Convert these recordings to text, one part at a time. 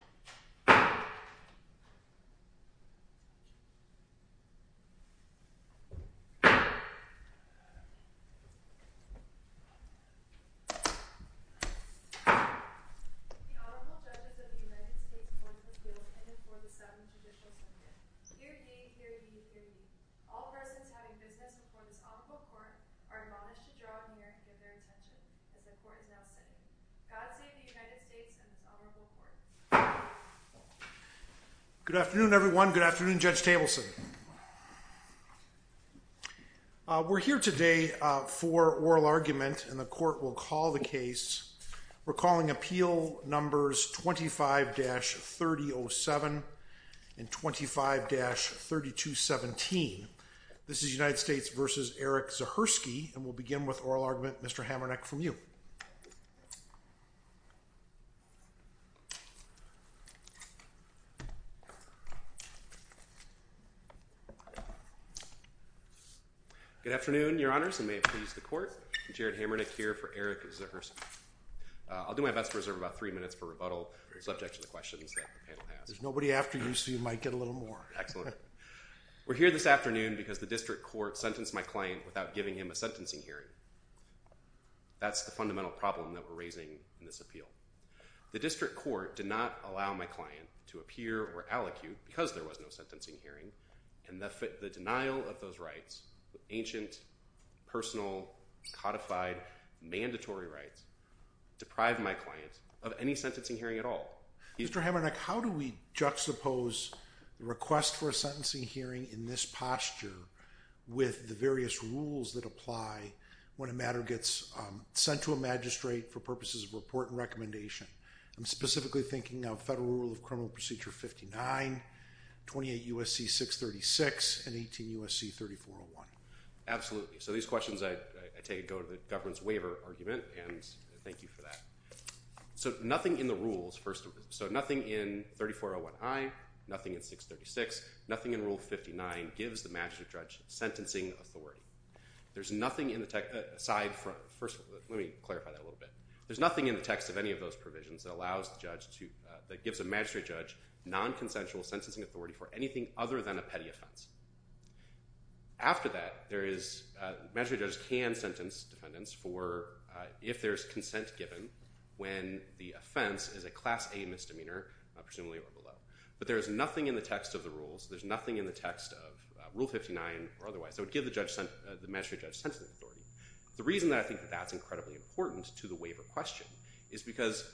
The Honorable Judges of the United States Courts of Appeals in and for the Southern Judicial Assembly. Hear ye, hear ye, hear ye. All persons having business before this Honorable Court are admonished to draw near and give their attention as the Court is now sitting. God save the United States and this Honorable Court. Good afternoon, Your Honors, and may it please the Court. Jared Hamernick here for Erik Zahursky. I'll do my best to reserve about three minutes for rebuttal, subject to the questions that the panel has. There's nobody after you, so you might get a little more. Excellent. We're here this afternoon because the District Court sentenced my client without giving him a sentencing hearing. That's the fundamental problem that we're raising in this appeal. The District Court did not allow my client to appear or allocute because there was no sentencing hearing, and the denial of those rights, ancient, personal, codified, mandatory rights, deprived my client of any sentencing hearing at all. Mr. Hamernick, how do we juxtapose the request for a sentencing hearing in this posture with the various rules that apply when a matter gets sent to a magistrate for purposes of report and recommendation? I'm specifically thinking of Federal Rule of Criminal Procedure 59, 28 U.S.C. 636, and 18 U.S.C. 3401. Absolutely. So these questions, I take a go to the government's waiver argument, and thank you for that. So nothing in the rules, so nothing in 3401I, nothing in 636, nothing in Rule 59 gives the magistrate judge sentencing authority. There's nothing in the text, aside from, first, let me clarify that a little bit. There's nothing in the text of any of those provisions that gives a magistrate judge nonconsensual sentencing authority for anything other than a petty offense. After that, magistrate judges can sentence defendants for, if there's consent given, when the offense is a Class A misdemeanor, presumably or below. But there's nothing in the text of the rules, there's nothing in the text of Rule 59 or otherwise, that would give the magistrate judge sentencing authority. The reason that I think that's incredibly important to the waiver question is because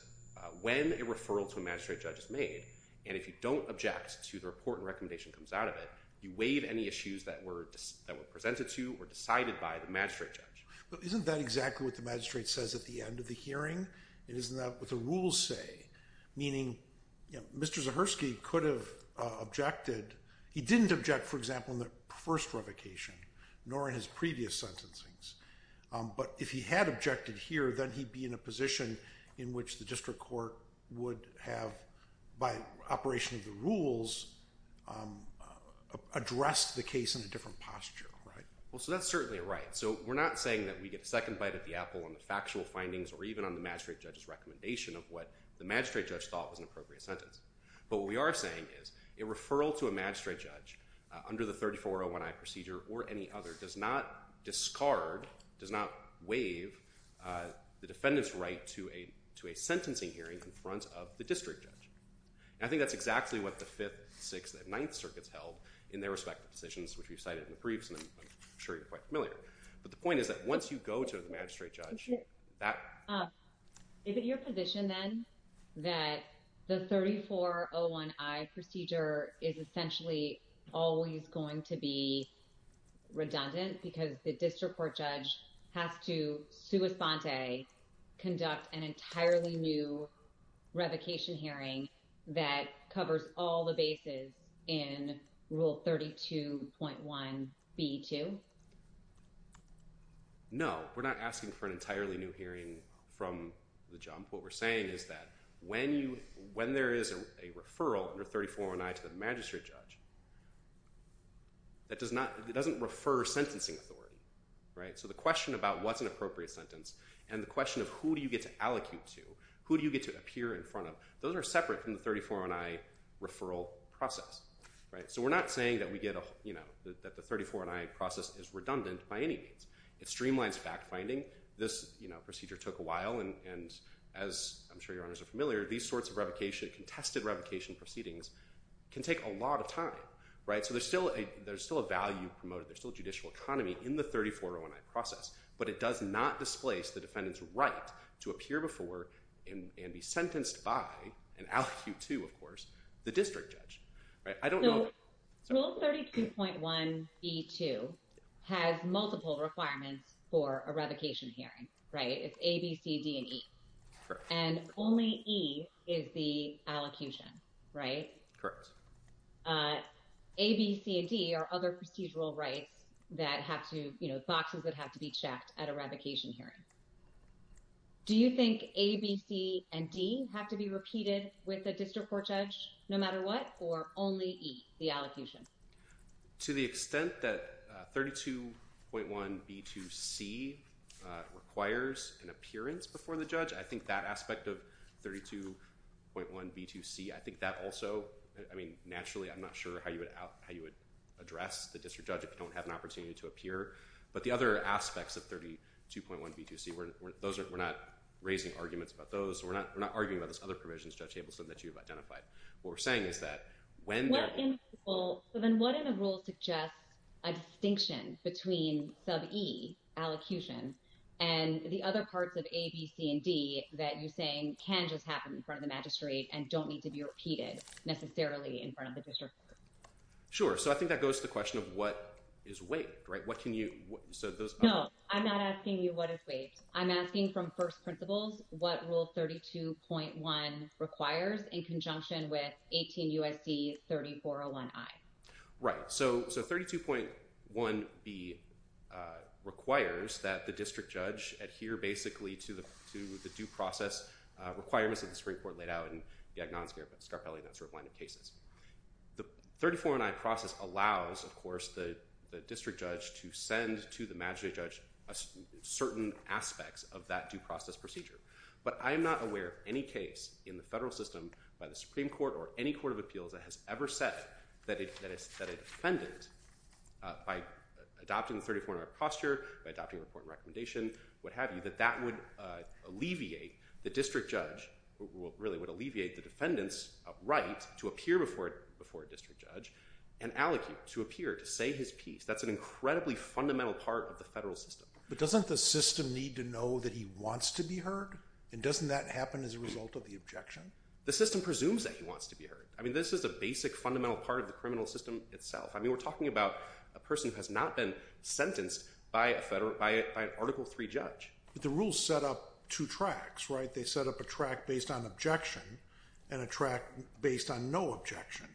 when a referral to a magistrate judge is made, and if you don't object to the report and recommendation that comes out of it, you waive any issues that were presented to or decided by the magistrate judge. But isn't that exactly what the magistrate says at the end of the hearing? Isn't that what the rules say? Meaning, Mr. Zahersky could have objected. He didn't object, for example, in the first revocation, nor in his previous sentencings. But if he had objected here, then he'd be in a position in which the district court would have, by operation of the rules, addressed the case in a different posture. Well, so that's certainly right. So we're not saying that we get a second bite at the apple on the factual findings or even on the magistrate judge's recommendation of what the magistrate judge thought was an appropriate sentence. But what we are saying is, a referral to a magistrate judge under the 3401I procedure or any other does not discard, does not waive, the defendant's right to a sentencing hearing in front of the district judge. And I think that's exactly what the Fifth, Sixth, and Ninth Circuits held in their respective decisions, which we've cited in the briefs, and I'm sure you're quite familiar. But the point is that once you go to the magistrate judge, that— Is it your position, then, that the 3401I procedure is essentially always going to be redundant because the district court judge has to, sua sante, conduct an entirely new revocation hearing that covers all the bases in Rule 32.1b.2? No, we're not asking for an entirely new hearing from the jump. What we're saying is that when there is a referral under 3401I to the magistrate judge, that doesn't refer sentencing authority. So the question about what's an appropriate sentence and the question of who do you get to allocute to, who do you get to appear in front of, those are separate from the 3401I referral process. So we're not saying that the 3401I process is redundant by any means. It streamlines fact-finding. This procedure took a while, and as I'm sure your honors are familiar, these sorts of revocation, contested revocation proceedings, can take a lot of time. So there's still a value promoted. There's still a judicial economy in the 3401I process. But it does not displace the defendant's right to appear before and be sentenced by, and allocute to, of course, the district judge. I don't know if… So Rule 32.1b2 has multiple requirements for a revocation hearing, right? It's A, B, C, D, and E. Correct. And only E is the allocution, right? Correct. A, B, C, and D are other procedural rights that have to, you know, boxes that have to be checked at a revocation hearing. Do you think A, B, C, and D have to be repeated with the district court judge no matter what, or only E, the allocation? To the extent that 32.1b2c requires an appearance before the judge, I think that aspect of 32.1b2c, I think that also… I mean, naturally, I'm not sure how you would address the district judge if you don't have an opportunity to appear. But the other aspects of 32.1b2c, we're not raising arguments about those. We're not arguing about those other provisions, Judge Abelson, that you've identified. What we're saying is that when… So then what in a rule suggests a distinction between sub E, allocution, and the other parts of A, B, C, and D that you're saying can just happen in front of the magistrate and don't need to be repeated necessarily in front of the district court? Sure. So I think that goes to the question of what is waived, right? What can you… No, I'm not asking you what is waived. I'm asking from first principles, what rule 32.1 requires in conjunction with 18 U.S.C. 3401i? Right. So 32.1b requires that the district judge adhere basically to the due process requirements of the Supreme Court laid out in the Agnons v. Scarpelli and that sort of line of cases. The 34.1i process allows, of course, the district judge to send to the magistrate judge certain aspects of that due process procedure. But I am not aware of any case in the federal system by the Supreme Court or any court of appeals that has ever said that a defendant, by adopting the 34.1i posture, by adopting a report and recommendation, what have you, that that would alleviate the district judge, really would alleviate the defendant's right to appear before a district judge and allocute to appear to say his piece. That's an incredibly fundamental part of the federal system. But doesn't the system need to know that he wants to be heard? And doesn't that happen as a result of the objection? The system presumes that he wants to be heard. I mean, this is a basic fundamental part of the criminal system itself. I mean, we're talking about a person who has not been sentenced by an Article III judge. But the rules set up two tracks, right? They set up a track based on objection and a track based on no objection.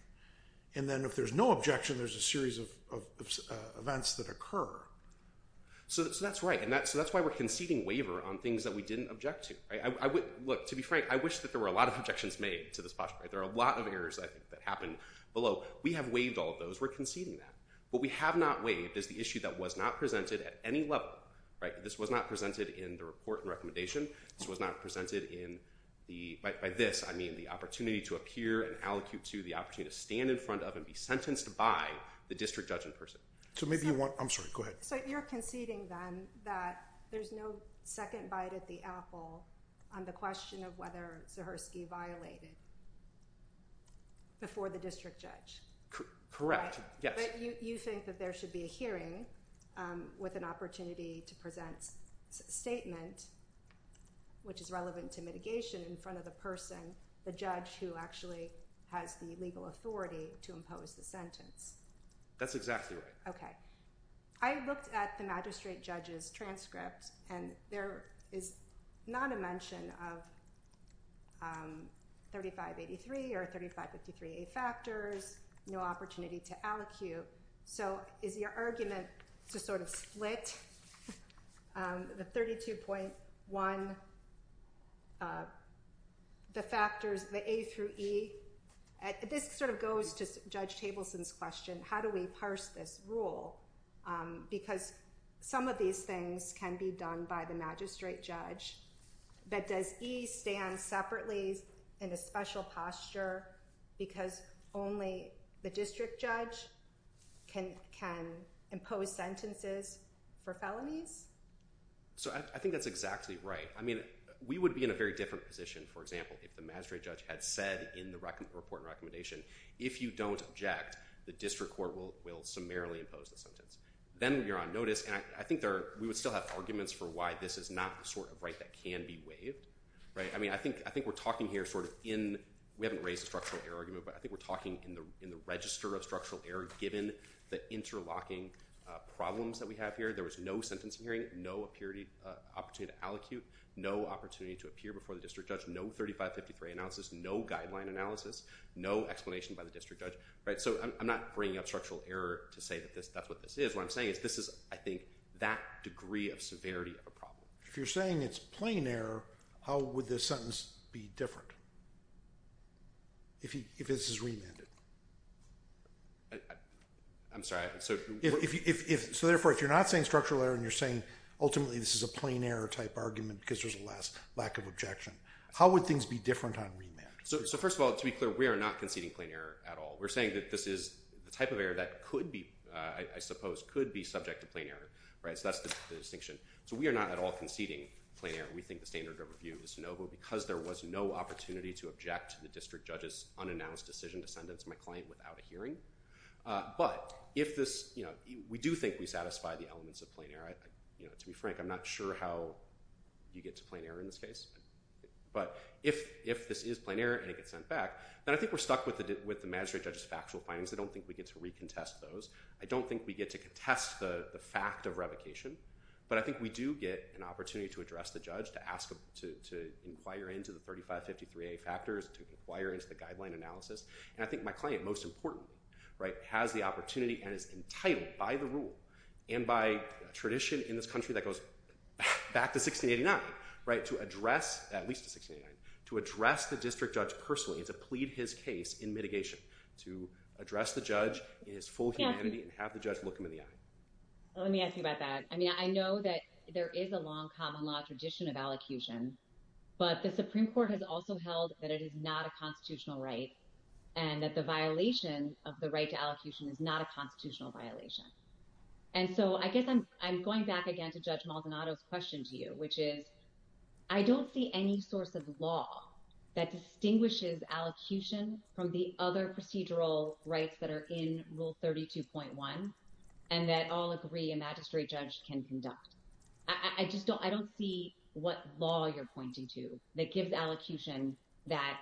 And then if there's no objection, there's a series of events that occur. So that's right. So that's why we're conceding waiver on things that we didn't object to. Look, to be frank, I wish that there were a lot of objections made to this posture. There are a lot of errors, I think, that happened below. We have waived all of those. We're conceding that. What we have not waived is the issue that was not presented at any level, right? This was not presented in the report and recommendation. This was not presented by this. I mean the opportunity to appear and allocute to the opportunity to stand in front of and be sentenced by the district judge in person. So maybe you want – I'm sorry, go ahead. So you're conceding then that there's no second bite at the apple on the question of whether Zahirsky violated before the district judge? Correct, yes. But you think that there should be a hearing with an opportunity to present a statement which is relevant to mitigation in front of the person, the judge, who actually has the legal authority to impose the sentence. That's exactly right. I looked at the magistrate judge's transcript and there is not a mention of 3583 or 3553A factors, no opportunity to allocute. So is your argument to sort of split the 32.1, the factors, the A through E? This sort of goes to Judge Tableson's question, how do we parse this rule? Because some of these things can be done by the magistrate judge, but does E stand separately in a special posture because only the district judge can impose sentences for felonies? So I think that's exactly right. I mean, we would be in a very different position, for example, if the magistrate judge had said in the report and recommendation, if you don't object, the district court will summarily impose the sentence. Then you're on notice, and I think we would still have arguments for why this is not the sort of right that can be waived. I mean, I think we're talking here sort of in – we haven't raised a structural error argument, but I think we're talking in the register of structural error given the interlocking problems that we have here. There was no sentencing hearing, no opportunity to allocute, no opportunity to appear before the district judge, no 3553 analysis, no guideline analysis, no explanation by the district judge. So I'm not bringing up structural error to say that that's what this is. What I'm saying is this is, I think, that degree of severity of a problem. If you're saying it's plain error, how would this sentence be different if this is remanded? I'm sorry? So therefore, if you're not saying structural error and you're saying ultimately this is a plain error type argument because there's a lack of objection, how would things be different on remand? So first of all, to be clear, we are not conceding plain error at all. We're saying that this is the type of error that could be, I suppose, could be subject to plain error. So that's the distinction. So we are not at all conceding plain error. We think the standard of review is no, but because there was no opportunity to object to the district judge's unannounced decision to sentence my client without a hearing. But we do think we satisfy the elements of plain error. To be frank, I'm not sure how you get to plain error in this case. But if this is plain error and it gets sent back, then I think we're stuck with the magistrate judge's factual findings. I don't think we get to recontest those. I don't think we get to contest the fact of revocation. But I think we do get an opportunity to address the judge, to inquire into the 3553A factors, to inquire into the guideline analysis. And I think my client, most importantly, right, has the opportunity and is entitled by the rule and by tradition in this country that goes back to 1689, right, to address, at least to 1689, to address the district judge personally, to plead his case in mitigation, to address the judge in his full humanity and have the judge look him in the eye. Let me ask you about that. I mean, I know that there is a long common law tradition of allocution, but the Supreme Court has also held that it is not a constitutional right and that the violation of the right to allocution is not a constitutional violation. And so I guess I'm going back again to Judge Maldonado's question to you, which is, I don't see any source of law that distinguishes allocution from the other procedural rights that are in Rule 32.1 and that all agree a magistrate judge can conduct. I just don't, I don't see what law you're pointing to that gives allocution that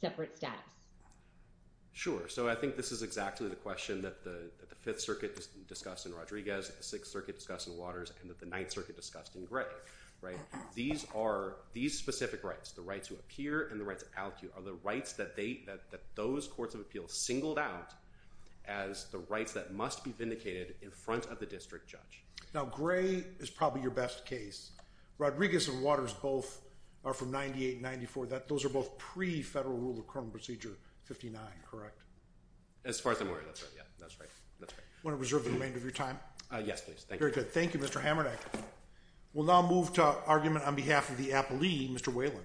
separate status. Sure. So I think this is exactly the question that the Fifth Circuit discussed in Rodriguez, the Sixth Circuit discussed in Waters, and that the Ninth Circuit discussed in Gray, right? These are, these specific rights, the right to appear and the right to allocute, are the rights that they, that those courts of appeal singled out as the rights that must be vindicated in front of the district judge. Now, Gray is probably your best case. Rodriguez and Waters both are from 98 and 94. Those are both pre-Federal Rule of Criminal Procedure 59, correct? As far as I'm aware, that's right, yeah. That's right. That's right. Want to reserve the remainder of your time? Yes, please. Thank you. Very good. Thank you, Mr. Hamernick. We'll now move to argument on behalf of the applee, Mr. Whalen.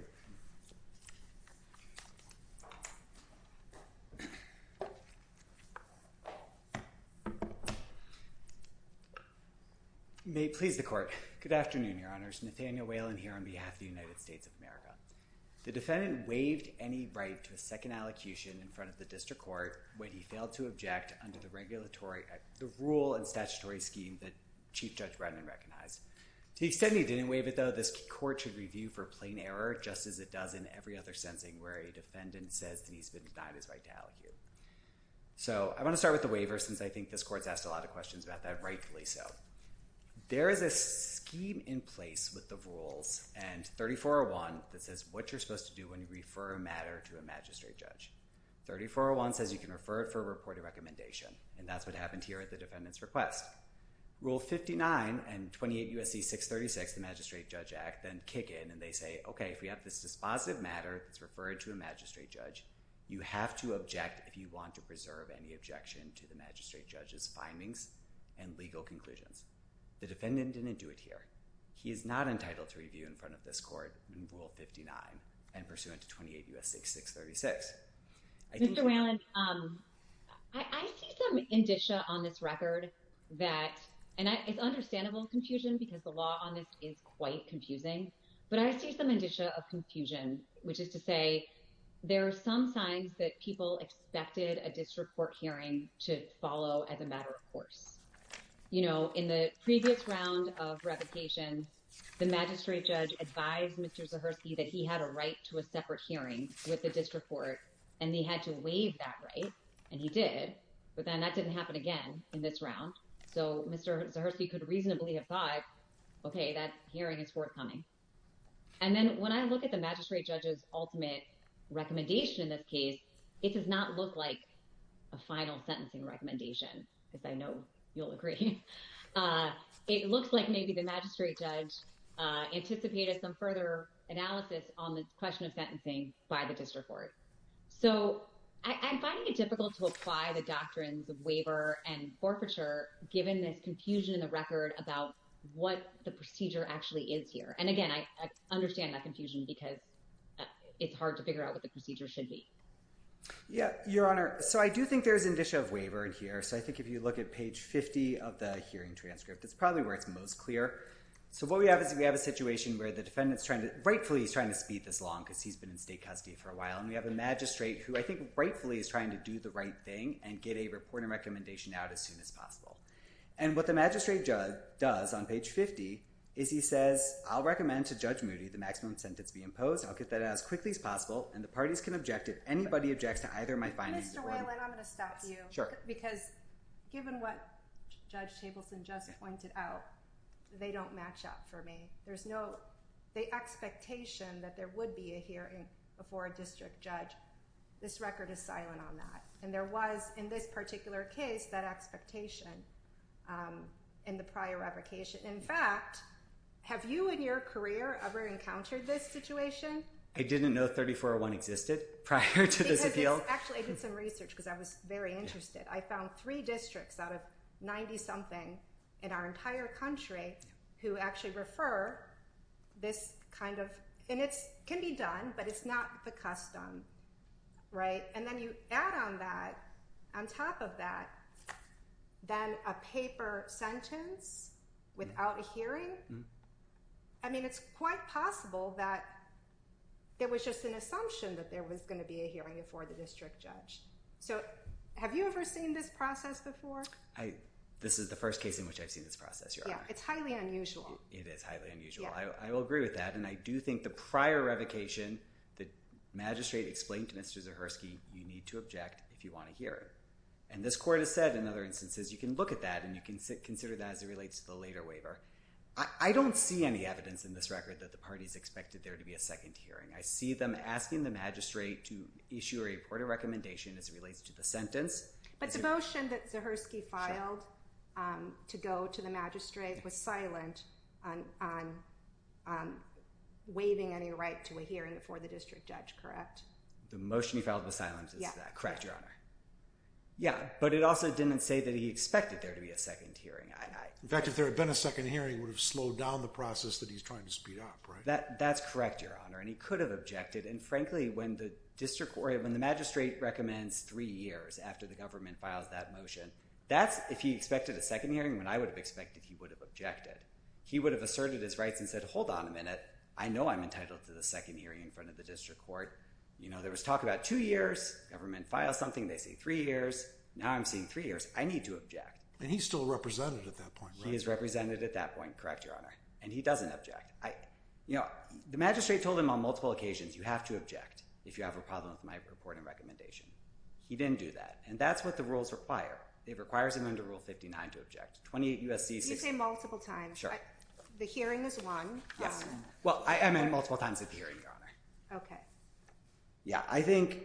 May it please the Court. Good afternoon, Your Honors. Nathaniel Whalen here on behalf of the United States of America. The defendant waived any right to a second allocution in front of the district court when he failed to object under the regulatory, the rule and statutory scheme that Chief Judge Brennan recognized. To the extent he didn't waive it, though, this court should review for plain error, just as it does in every other sentencing where a defendant says that he's been denied his right to allocute. So I want to start with the waiver since I think this court's asked a lot of questions about that, rightfully so. There is a scheme in place with the rules and 3401 that says what you're supposed to do when you refer a matter to a magistrate judge. 3401 says you can refer it for a reported recommendation, and that's what happened here at the defendant's request. Rule 59 and 28 U.S.C. 636, the Magistrate Judge Act, then kick in and they say, OK, if we have this dispositive matter that's referred to a magistrate judge, you have to object if you want to preserve any objection to the magistrate judge's findings and legal conclusions. The defendant didn't do it here. He is not entitled to review in front of this court in Rule 59 and pursuant to 28 U.S.C. 636. Mr. Whalen, I see some indicia on this record that, and it's understandable confusion because the law on this is quite confusing. But I see some indicia of confusion, which is to say there are some signs that people expected a disreport hearing to follow as a matter of course. In the previous round of revocation, the magistrate judge advised Mr. Zahersky that he had a right to a separate hearing with the disreport, and he had to waive that right, and he did. But then that didn't happen again in this round, so Mr. Zahersky could reasonably have thought, OK, that hearing is forthcoming. And then when I look at the magistrate judge's ultimate recommendation in this case, it does not look like a final sentencing recommendation, because I know you'll agree. It looks like maybe the magistrate judge anticipated some further analysis on the question of sentencing by the disreport. So I'm finding it difficult to apply the doctrines of waiver and forfeiture, given this confusion in the record about what the procedure actually is here. And again, I understand that confusion because it's hard to figure out what the procedure should be. Yeah, Your Honor, so I do think there's indicia of waiver in here. So I think if you look at page 50 of the hearing transcript, it's probably where it's most clear. So what we have is we have a situation where the defendant's trying to—rightfully, he's trying to speed this along because he's been in state custody for a while. And we have a magistrate who I think rightfully is trying to do the right thing and get a report and recommendation out as soon as possible. And what the magistrate judge does on page 50 is he says, I'll recommend to Judge Moody the maximum sentence be imposed. I'll get that out as quickly as possible, and the parties can object if anybody objects to either of my findings. Mr. Weyland, I'm going to stop you. Because given what Judge Tableson just pointed out, they don't match up for me. There's no—the expectation that there would be a hearing before a district judge, this record is silent on that. And there was, in this particular case, that expectation in the prior application. In fact, have you in your career ever encountered this situation? I didn't know 3401 existed prior to this appeal. Actually, I did some research because I was very interested. I found three districts out of 90-something in our entire country who actually refer this kind of—and it can be done, but it's not the custom. And then you add on that, on top of that, then a paper sentence without a hearing? I mean, it's quite possible that there was just an assumption that there was going to be a hearing before the district judge. So have you ever seen this process before? This is the first case in which I've seen this process, Your Honor. Yeah, it's highly unusual. It is highly unusual. I will agree with that. And I do think the prior revocation, the magistrate explained to Mr. Zahersky, you need to object if you want a hearing. And this court has said, in other instances, you can look at that and you can consider that as it relates to the later waiver. I don't see any evidence in this record that the parties expected there to be a second hearing. I see them asking the magistrate to issue a report of recommendation as it relates to the sentence. But the motion that Zahersky filed to go to the magistrate was silent on waiving any right to a hearing before the district judge, correct? The motion he filed was silent. Correct, Your Honor. Yeah, but it also didn't say that he expected there to be a second hearing. In fact, if there had been a second hearing, it would have slowed down the process that he's trying to speed up, right? That's correct, Your Honor, and he could have objected. And frankly, when the magistrate recommends three years after the government files that motion, that's if he expected a second hearing when I would have expected he would have objected. He would have asserted his rights and said, hold on a minute. I know I'm entitled to the second hearing in front of the district court. You know, there was talk about two years. Government files something, they say three years. Now I'm seeing three years. I need to object. And he's still represented at that point, right? He is represented at that point, correct, Your Honor, and he doesn't object. You know, the magistrate told him on multiple occasions, you have to object if you have a problem with my report and recommendation. He didn't do that, and that's what the rules require. It requires him under Rule 59 to object. 28 U.S.C. You say multiple times. Sure. The hearing is one. Yes. Well, I meant multiple times at the hearing, Your Honor. Okay. Yeah, I think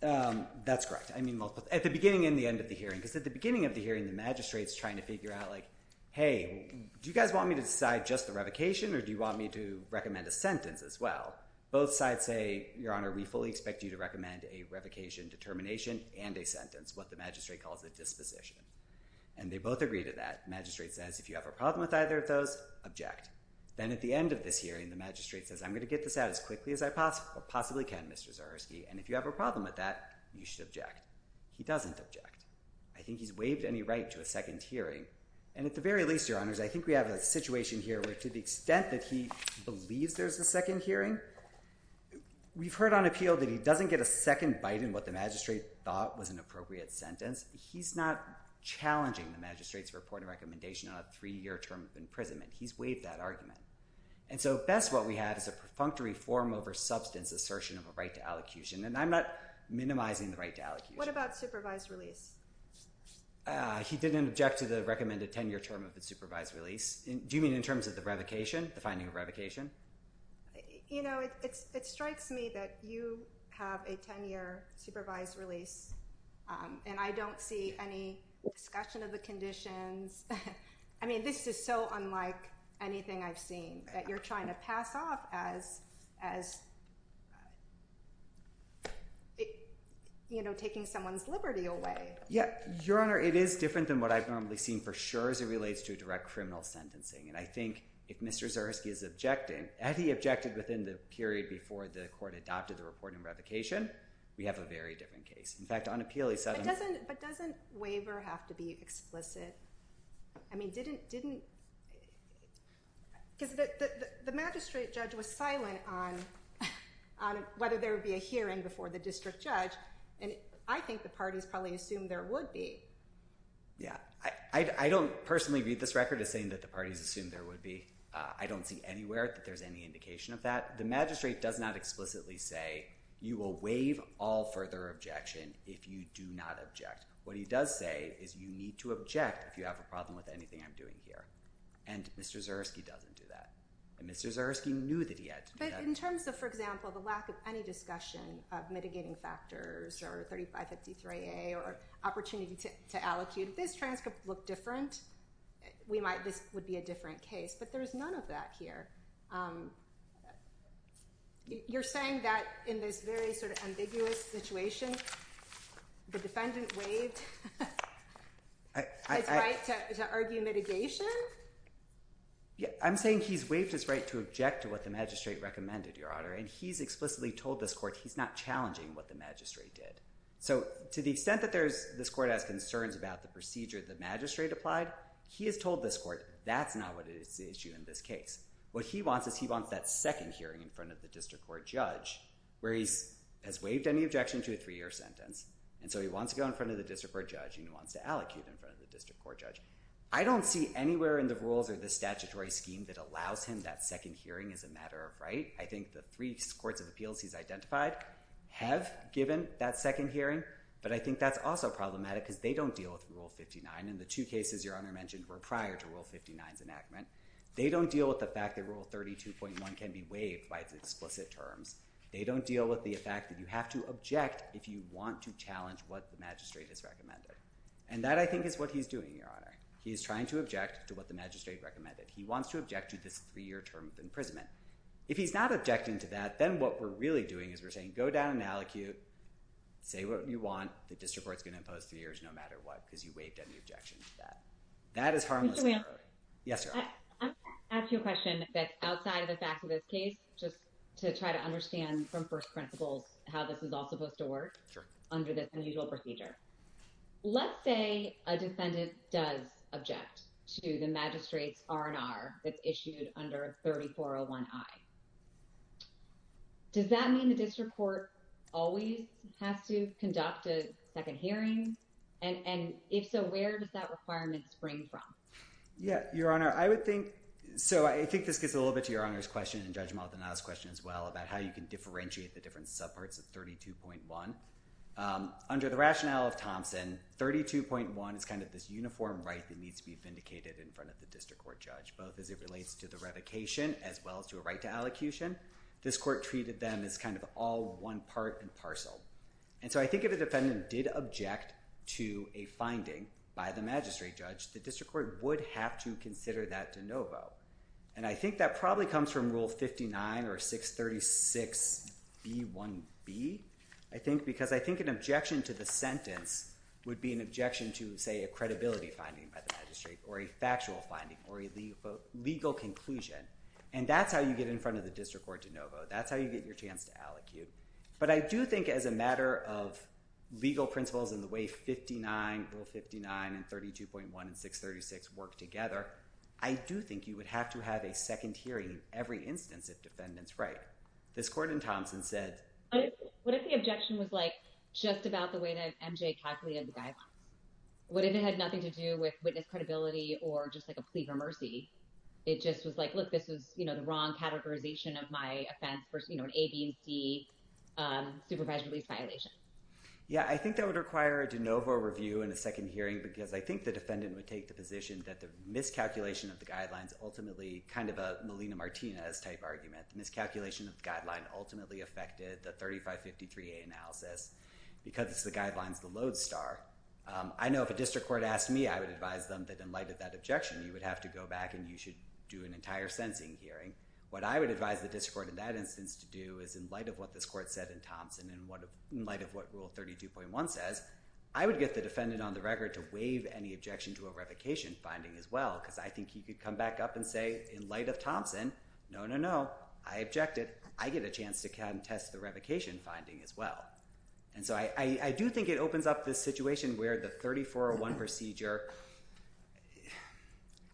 that's correct. At the beginning and the end of the hearing, because at the beginning of the hearing, the magistrate is trying to figure out, like, hey, do you guys want me to decide just the revocation or do you want me to recommend a sentence as well? Both sides say, Your Honor, we fully expect you to recommend a revocation determination and a sentence, what the magistrate calls a disposition. And they both agree to that. The magistrate says if you have a problem with either of those, object. Then at the end of this hearing, the magistrate says I'm going to get this out as quickly as I possibly can, Mr. Zyrowski, and if you have a problem with that, you should object. He doesn't object. I think he's waived any right to a second hearing. And at the very least, Your Honors, I think we have a situation here where to the extent that he believes there's a second hearing, we've heard on appeal that he doesn't get a second bite in what the magistrate thought was an appropriate sentence. He's not challenging the magistrate's report and recommendation on a 3-year term of imprisonment. He's waived that argument. And so best what we have is a perfunctory form over substance assertion of a right to allocution, and I'm not minimizing the right to allocution. What about supervised release? He didn't object to the recommended 10-year term of the supervised release. Do you mean in terms of the revocation, the finding of revocation? You know, it strikes me that you have a 10-year supervised release, and I don't see any discussion of the conditions. I mean, this is so unlike anything I've seen, that you're trying to pass off as, you know, taking someone's liberty away. Yeah. Your Honor, it is different than what I've normally seen for sure as it relates to direct criminal sentencing. And I think if Mr. Zyrowski is objecting, had he objected within the period before the court adopted the report and revocation, we have a very different case. In fact, on appeal, he said— But doesn't waiver have to be explicit? I mean, didn't—because the magistrate judge was silent on whether there would be a hearing before the district judge, and I think the parties probably assumed there would be. Yeah. I don't personally read this record as saying that the parties assumed there would be. I don't see anywhere that there's any indication of that. The magistrate does not explicitly say you will waive all further objection if you do not object. What he does say is you need to object if you have a problem with anything I'm doing here. And Mr. Zyrowski doesn't do that. And Mr. Zyrowski knew that he had to do that. But in terms of, for example, the lack of any discussion of mitigating factors or 3553A or opportunity to allocute, this transcript would look different. This would be a different case. But there is none of that here. You're saying that in this very sort of ambiguous situation, the defendant waived his right to argue mitigation? Yeah. I'm saying he's waived his right to object to what the magistrate recommended, Your Honor, and he's explicitly told this court he's not challenging what the magistrate did. So to the extent that this court has concerns about the procedure the magistrate applied, he has told this court that's not what is at issue in this case. What he wants is he wants that second hearing in front of the district court judge where he has waived any objection to a three-year sentence. And so he wants to go in front of the district court judge and he wants to allocate in front of the district court judge. I don't see anywhere in the rules or the statutory scheme that allows him that second hearing as a matter of right. I think the three courts of appeals he's identified have given that second hearing. But I think that's also problematic because they don't deal with Rule 59. And the two cases, Your Honor, mentioned were prior to Rule 59's enactment. They don't deal with the fact that Rule 32.1 can be waived by explicit terms. They don't deal with the fact that you have to object if you want to challenge what the magistrate has recommended. And that, I think, is what he's doing, Your Honor. He is trying to object to what the magistrate recommended. He wants to object to this three-year term of imprisonment. If he's not objecting to that, then what we're really doing is we're saying, go down and allocate, say what you want. The district court's going to impose three years no matter what because you waived any objection to that. That is harmless. Yes, Your Honor. I'm going to ask you a question that's outside of the facts of this case, just to try to understand from first principles how this is all supposed to work under this unusual procedure. Let's say a defendant does object to the magistrate's R&R that's issued under 3401I. Does that mean the district court always has to conduct a second hearing? And if so, where does that requirement spring from? Yeah, Your Honor, I would think, so I think this gets a little bit to Your Honor's question and Judge Maldonado's question as well about how you can differentiate the different subparts of 32.1. Under the rationale of Thompson, 32.1 is kind of this uniform right that needs to be vindicated in front of the district court judge, both as it relates to the revocation as well as to a right to allocution. This court treated them as kind of all one part and parcel. And so I think if a defendant did object to a finding by the magistrate judge, the district court would have to consider that de novo. And I think that probably comes from Rule 59 or 636B1B. I think because I think an objection to the sentence would be an objection to, say, a credibility finding by the magistrate or a factual finding or a legal conclusion. And that's how you get in front of the district court de novo. That's how you get your chance to allocute. But I do think as a matter of legal principles and the way 59, Rule 59 and 32.1 and 636 work together, I do think you would have to have a second hearing every instance if defendants write. This court in Thompson said. What if the objection was like just about the way that MJ calculated the guidelines? What if it had nothing to do with witness credibility or just like a plea for mercy? It just was like, look, this was, you know, the wrong categorization of my offense versus, you know, an A, B, and C supervised release violation. Yeah, I think that would require a de novo review and a second hearing because I think the defendant would take the position that the miscalculation of the guidelines ultimately kind of a Melina Martinez type argument. The miscalculation of the guideline ultimately affected the 3553A analysis because it's the guidelines, the load star. I know if a district court asked me, I would advise them that in light of that objection, you would have to go back and you should do an entire sensing hearing. What I would advise the district court in that instance to do is in light of what this court said in Thompson and in light of what Rule 32.1 says, I would get the defendant on the record to waive any objection to a revocation finding as well, because I think he could come back up and say, in light of Thompson, no, no, no, I objected. I get a chance to contest the revocation finding as well. And so I do think it opens up this situation where the 3401 procedure,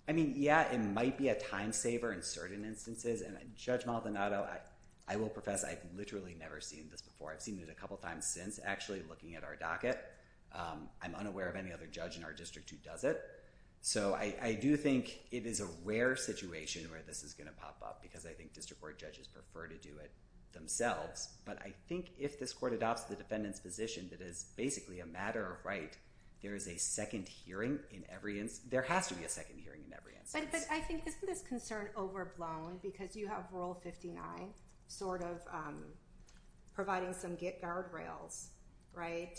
I mean, yeah, it might be a time saver in certain instances. And Judge Maldonado, I will profess I've literally never seen this before. I've seen it a couple times since actually looking at our docket. I'm unaware of any other judge in our district who does it. So I do think it is a rare situation where this is going to pop up because I think district court judges prefer to do it themselves. But I think if this court adopts the defendant's position that is basically a matter of right, there is a second hearing in every instance. There has to be a second hearing in every instance. But I think isn't this concern overblown because you have Rule 59 sort of providing some guardrails, right?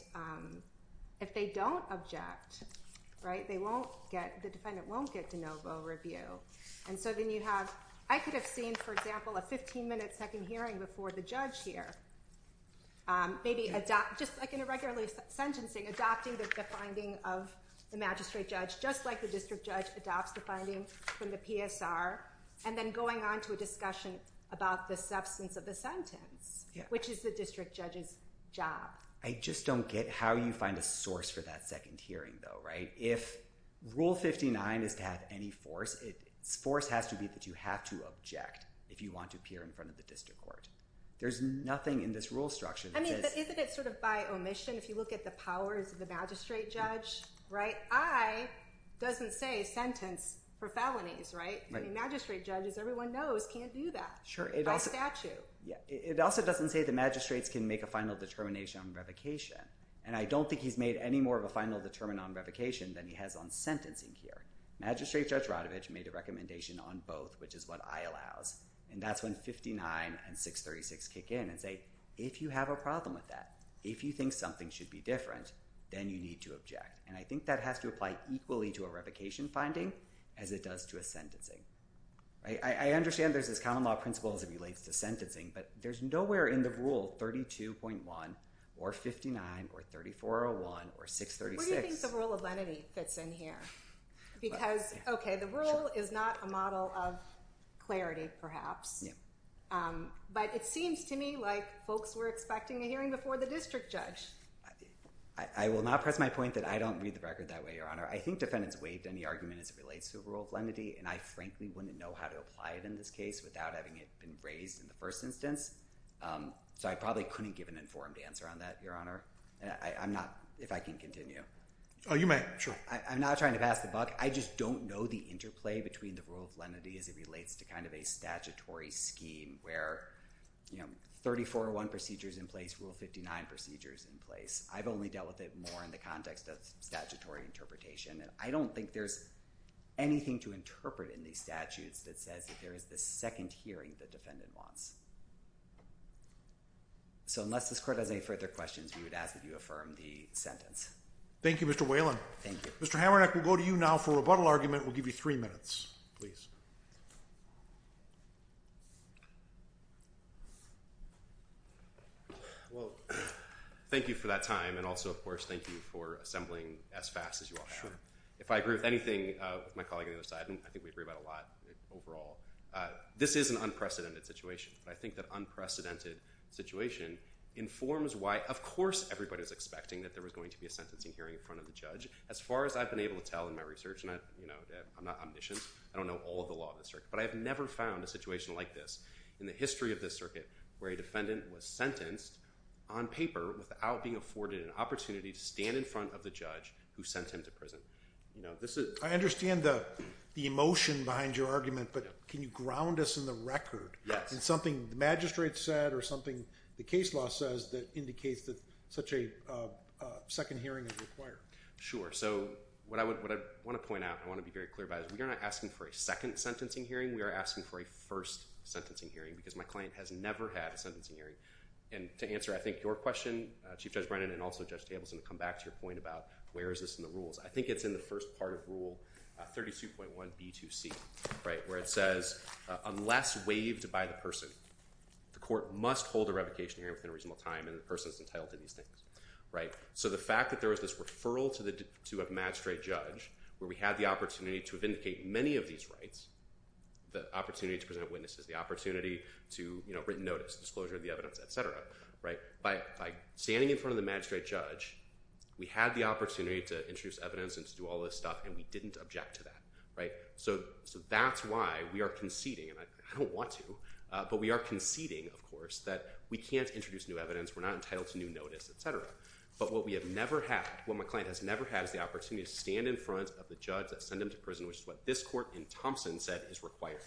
If they don't object, right, they won't get, the defendant won't get de novo review. And so then you have, I could have seen, for example, a 15-minute second hearing before the judge here. Maybe just like in a regular sentencing, adopting the finding of the magistrate judge, just like the district judge adopts the finding from the PSR, and then going on to a discussion about the substance of the sentence, which is the district judge's job. I just don't get how you find a source for that second hearing, though, right? If Rule 59 is to have any force, its force has to be that you have to object if you want to appear in front of the district court. There's nothing in this rule structure that says— I mean, but isn't it sort of by omission if you look at the powers of the magistrate judge, right? I doesn't say sentence for felonies, right? I mean, magistrate judges, everyone knows, can't do that by statute. It also doesn't say the magistrates can make a final determination on revocation. And I don't think he's made any more of a final determination on revocation than he has on sentencing here. Magistrate Judge Rodovich made a recommendation on both, which is what I allows. And that's when 59 and 636 kick in and say, if you have a problem with that, if you think something should be different, then you need to object. And I think that has to apply equally to a revocation finding as it does to a sentencing. I understand there's this common law principle as it relates to sentencing, but there's nowhere in the rule 32.1 or 59 or 3401 or 636— What do you think the rule of lenity fits in here? Because, okay, the rule is not a model of clarity, perhaps. No. But it seems to me like folks were expecting a hearing before the district judge. I will not press my point that I don't read the record that way, Your Honor. I think defendants waived any argument as it relates to the rule of lenity, and I frankly wouldn't know how to apply it in this case without having it been raised in the first instance. So I probably couldn't give an informed answer on that, Your Honor. I'm not—if I can continue. Oh, you may. Sure. I'm not trying to pass the buck. I just don't know the interplay between the rule of lenity as it relates to kind of a statutory scheme where 3401 procedure is in place, Rule 59 procedure is in place. I've only dealt with it more in the context of statutory interpretation, and I don't think there's anything to interpret in these statutes that says that there is this second hearing the defendant wants. So unless this court has any further questions, we would ask that you affirm the sentence. Thank you, Mr. Whalen. Thank you. Mr. Hamernick, we'll go to you now for a rebuttal argument. We'll give you three minutes, please. Well, thank you for that time, and also, of course, thank you for assembling as fast as you all have. If I agree with anything with my colleague on the other side, and I think we agree about a lot overall, this is an unprecedented situation. I think that unprecedented situation informs why, of course, everybody is expecting that there was going to be a sentencing hearing in front of the judge. As far as I've been able to tell in my research, and I'm not omniscient, I don't know all of the law in this circuit, but I have never found a situation like this in the history of this circuit where a defendant was sentenced on paper without being afforded an opportunity to stand in front of the judge who sent him to prison. I understand the emotion behind your argument, but can you ground us in the record in something the magistrate said or something the case law says that indicates that such a second hearing is required? Sure. So what I want to point out, I want to be very clear about, is we are not asking for a second sentencing hearing. We are asking for a first sentencing hearing, because my client has never had a sentencing hearing. And to answer, I think, your question, Chief Judge Brennan, and also Judge Tableson, to come back to your point about where is this in the rules. I think it's in the first part of Rule 32.1b2c, where it says, unless waived by the person, the court must hold a revocation hearing within a reasonable time, and the person is entitled to these things. So the fact that there was this referral to a magistrate judge, where we had the opportunity to vindicate many of these rights, the opportunity to present witnesses, the opportunity to written notice, disclosure of the evidence, etc. By standing in front of the magistrate judge, we had the opportunity to introduce evidence and to do all this stuff, and we didn't object to that. So that's why we are conceding, and I don't want to, but we are conceding, of course, that we can't introduce new evidence, we're not entitled to new notice, etc. But what we have never had, what my client has never had, is the opportunity to stand in front of the judge and send him to prison, which is what this court in Thompson said is required.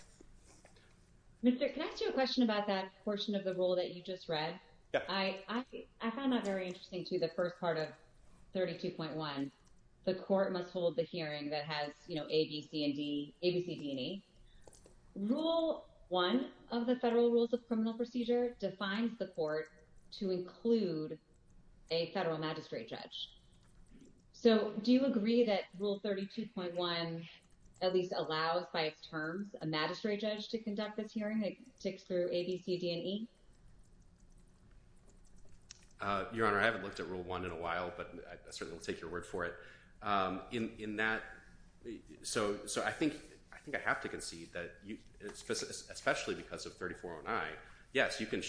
Mr. Can I ask you a question about that portion of the rule that you just read? Yeah. I found that very interesting, too, the first part of 32.1. The court must hold the hearing that has A, B, C, and D, A, B, C, D, and E. Rule 1 of the Federal Rules of Criminal Procedure defines the court to include a federal magistrate judge. So do you agree that Rule 32.1 at least allows, by its terms, a magistrate judge to conduct this hearing? It ticks through A, B, C, D, and E? Your Honor, I haven't looked at Rule 1 in a while, but I certainly will take your word for it. In that, so I think I have to concede that, especially because of 3409, yes, you can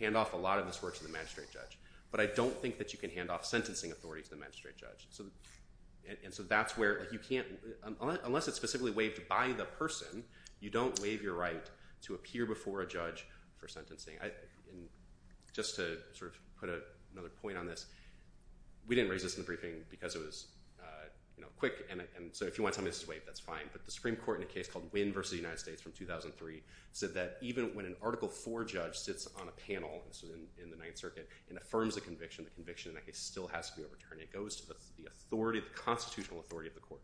hand off a lot of this work to the magistrate judge, but I don't think that you can hand off sentencing authority to the magistrate judge. And so that's where you can't, unless it's specifically waived by the person, you don't waive your right to appear before a judge for sentencing. Just to sort of put another point on this, we didn't raise this in the briefing because it was quick, and so if you want to tell me this is waived, that's fine, but the Supreme Court in a case called Wynn v. United States from 2003 said that even when an Article IV judge sits on a panel in the Ninth Circuit and affirms a conviction, the conviction in that case still has to be overturned. It goes to the authority, the constitutional authority of the court.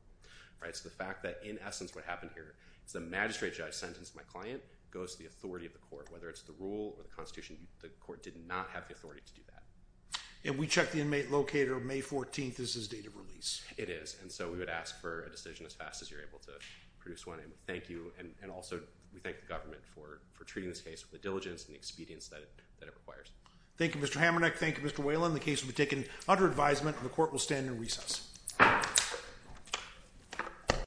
So the fact that, in essence, what happened here is the magistrate judge sentenced my client, goes to the authority of the court, whether it's the rule or the constitution, the court did not have the authority to do that. And we checked the inmate located on May 14th as his date of release. It is, and so we would ask for a decision as fast as you're able to produce one, and thank you, and also we thank the government for treating this case with the diligence and the expedience that it requires. Thank you, Mr. Hamernick. Thank you, Mr. Whalen. The case will be taken under advisement, and the court will stand in recess.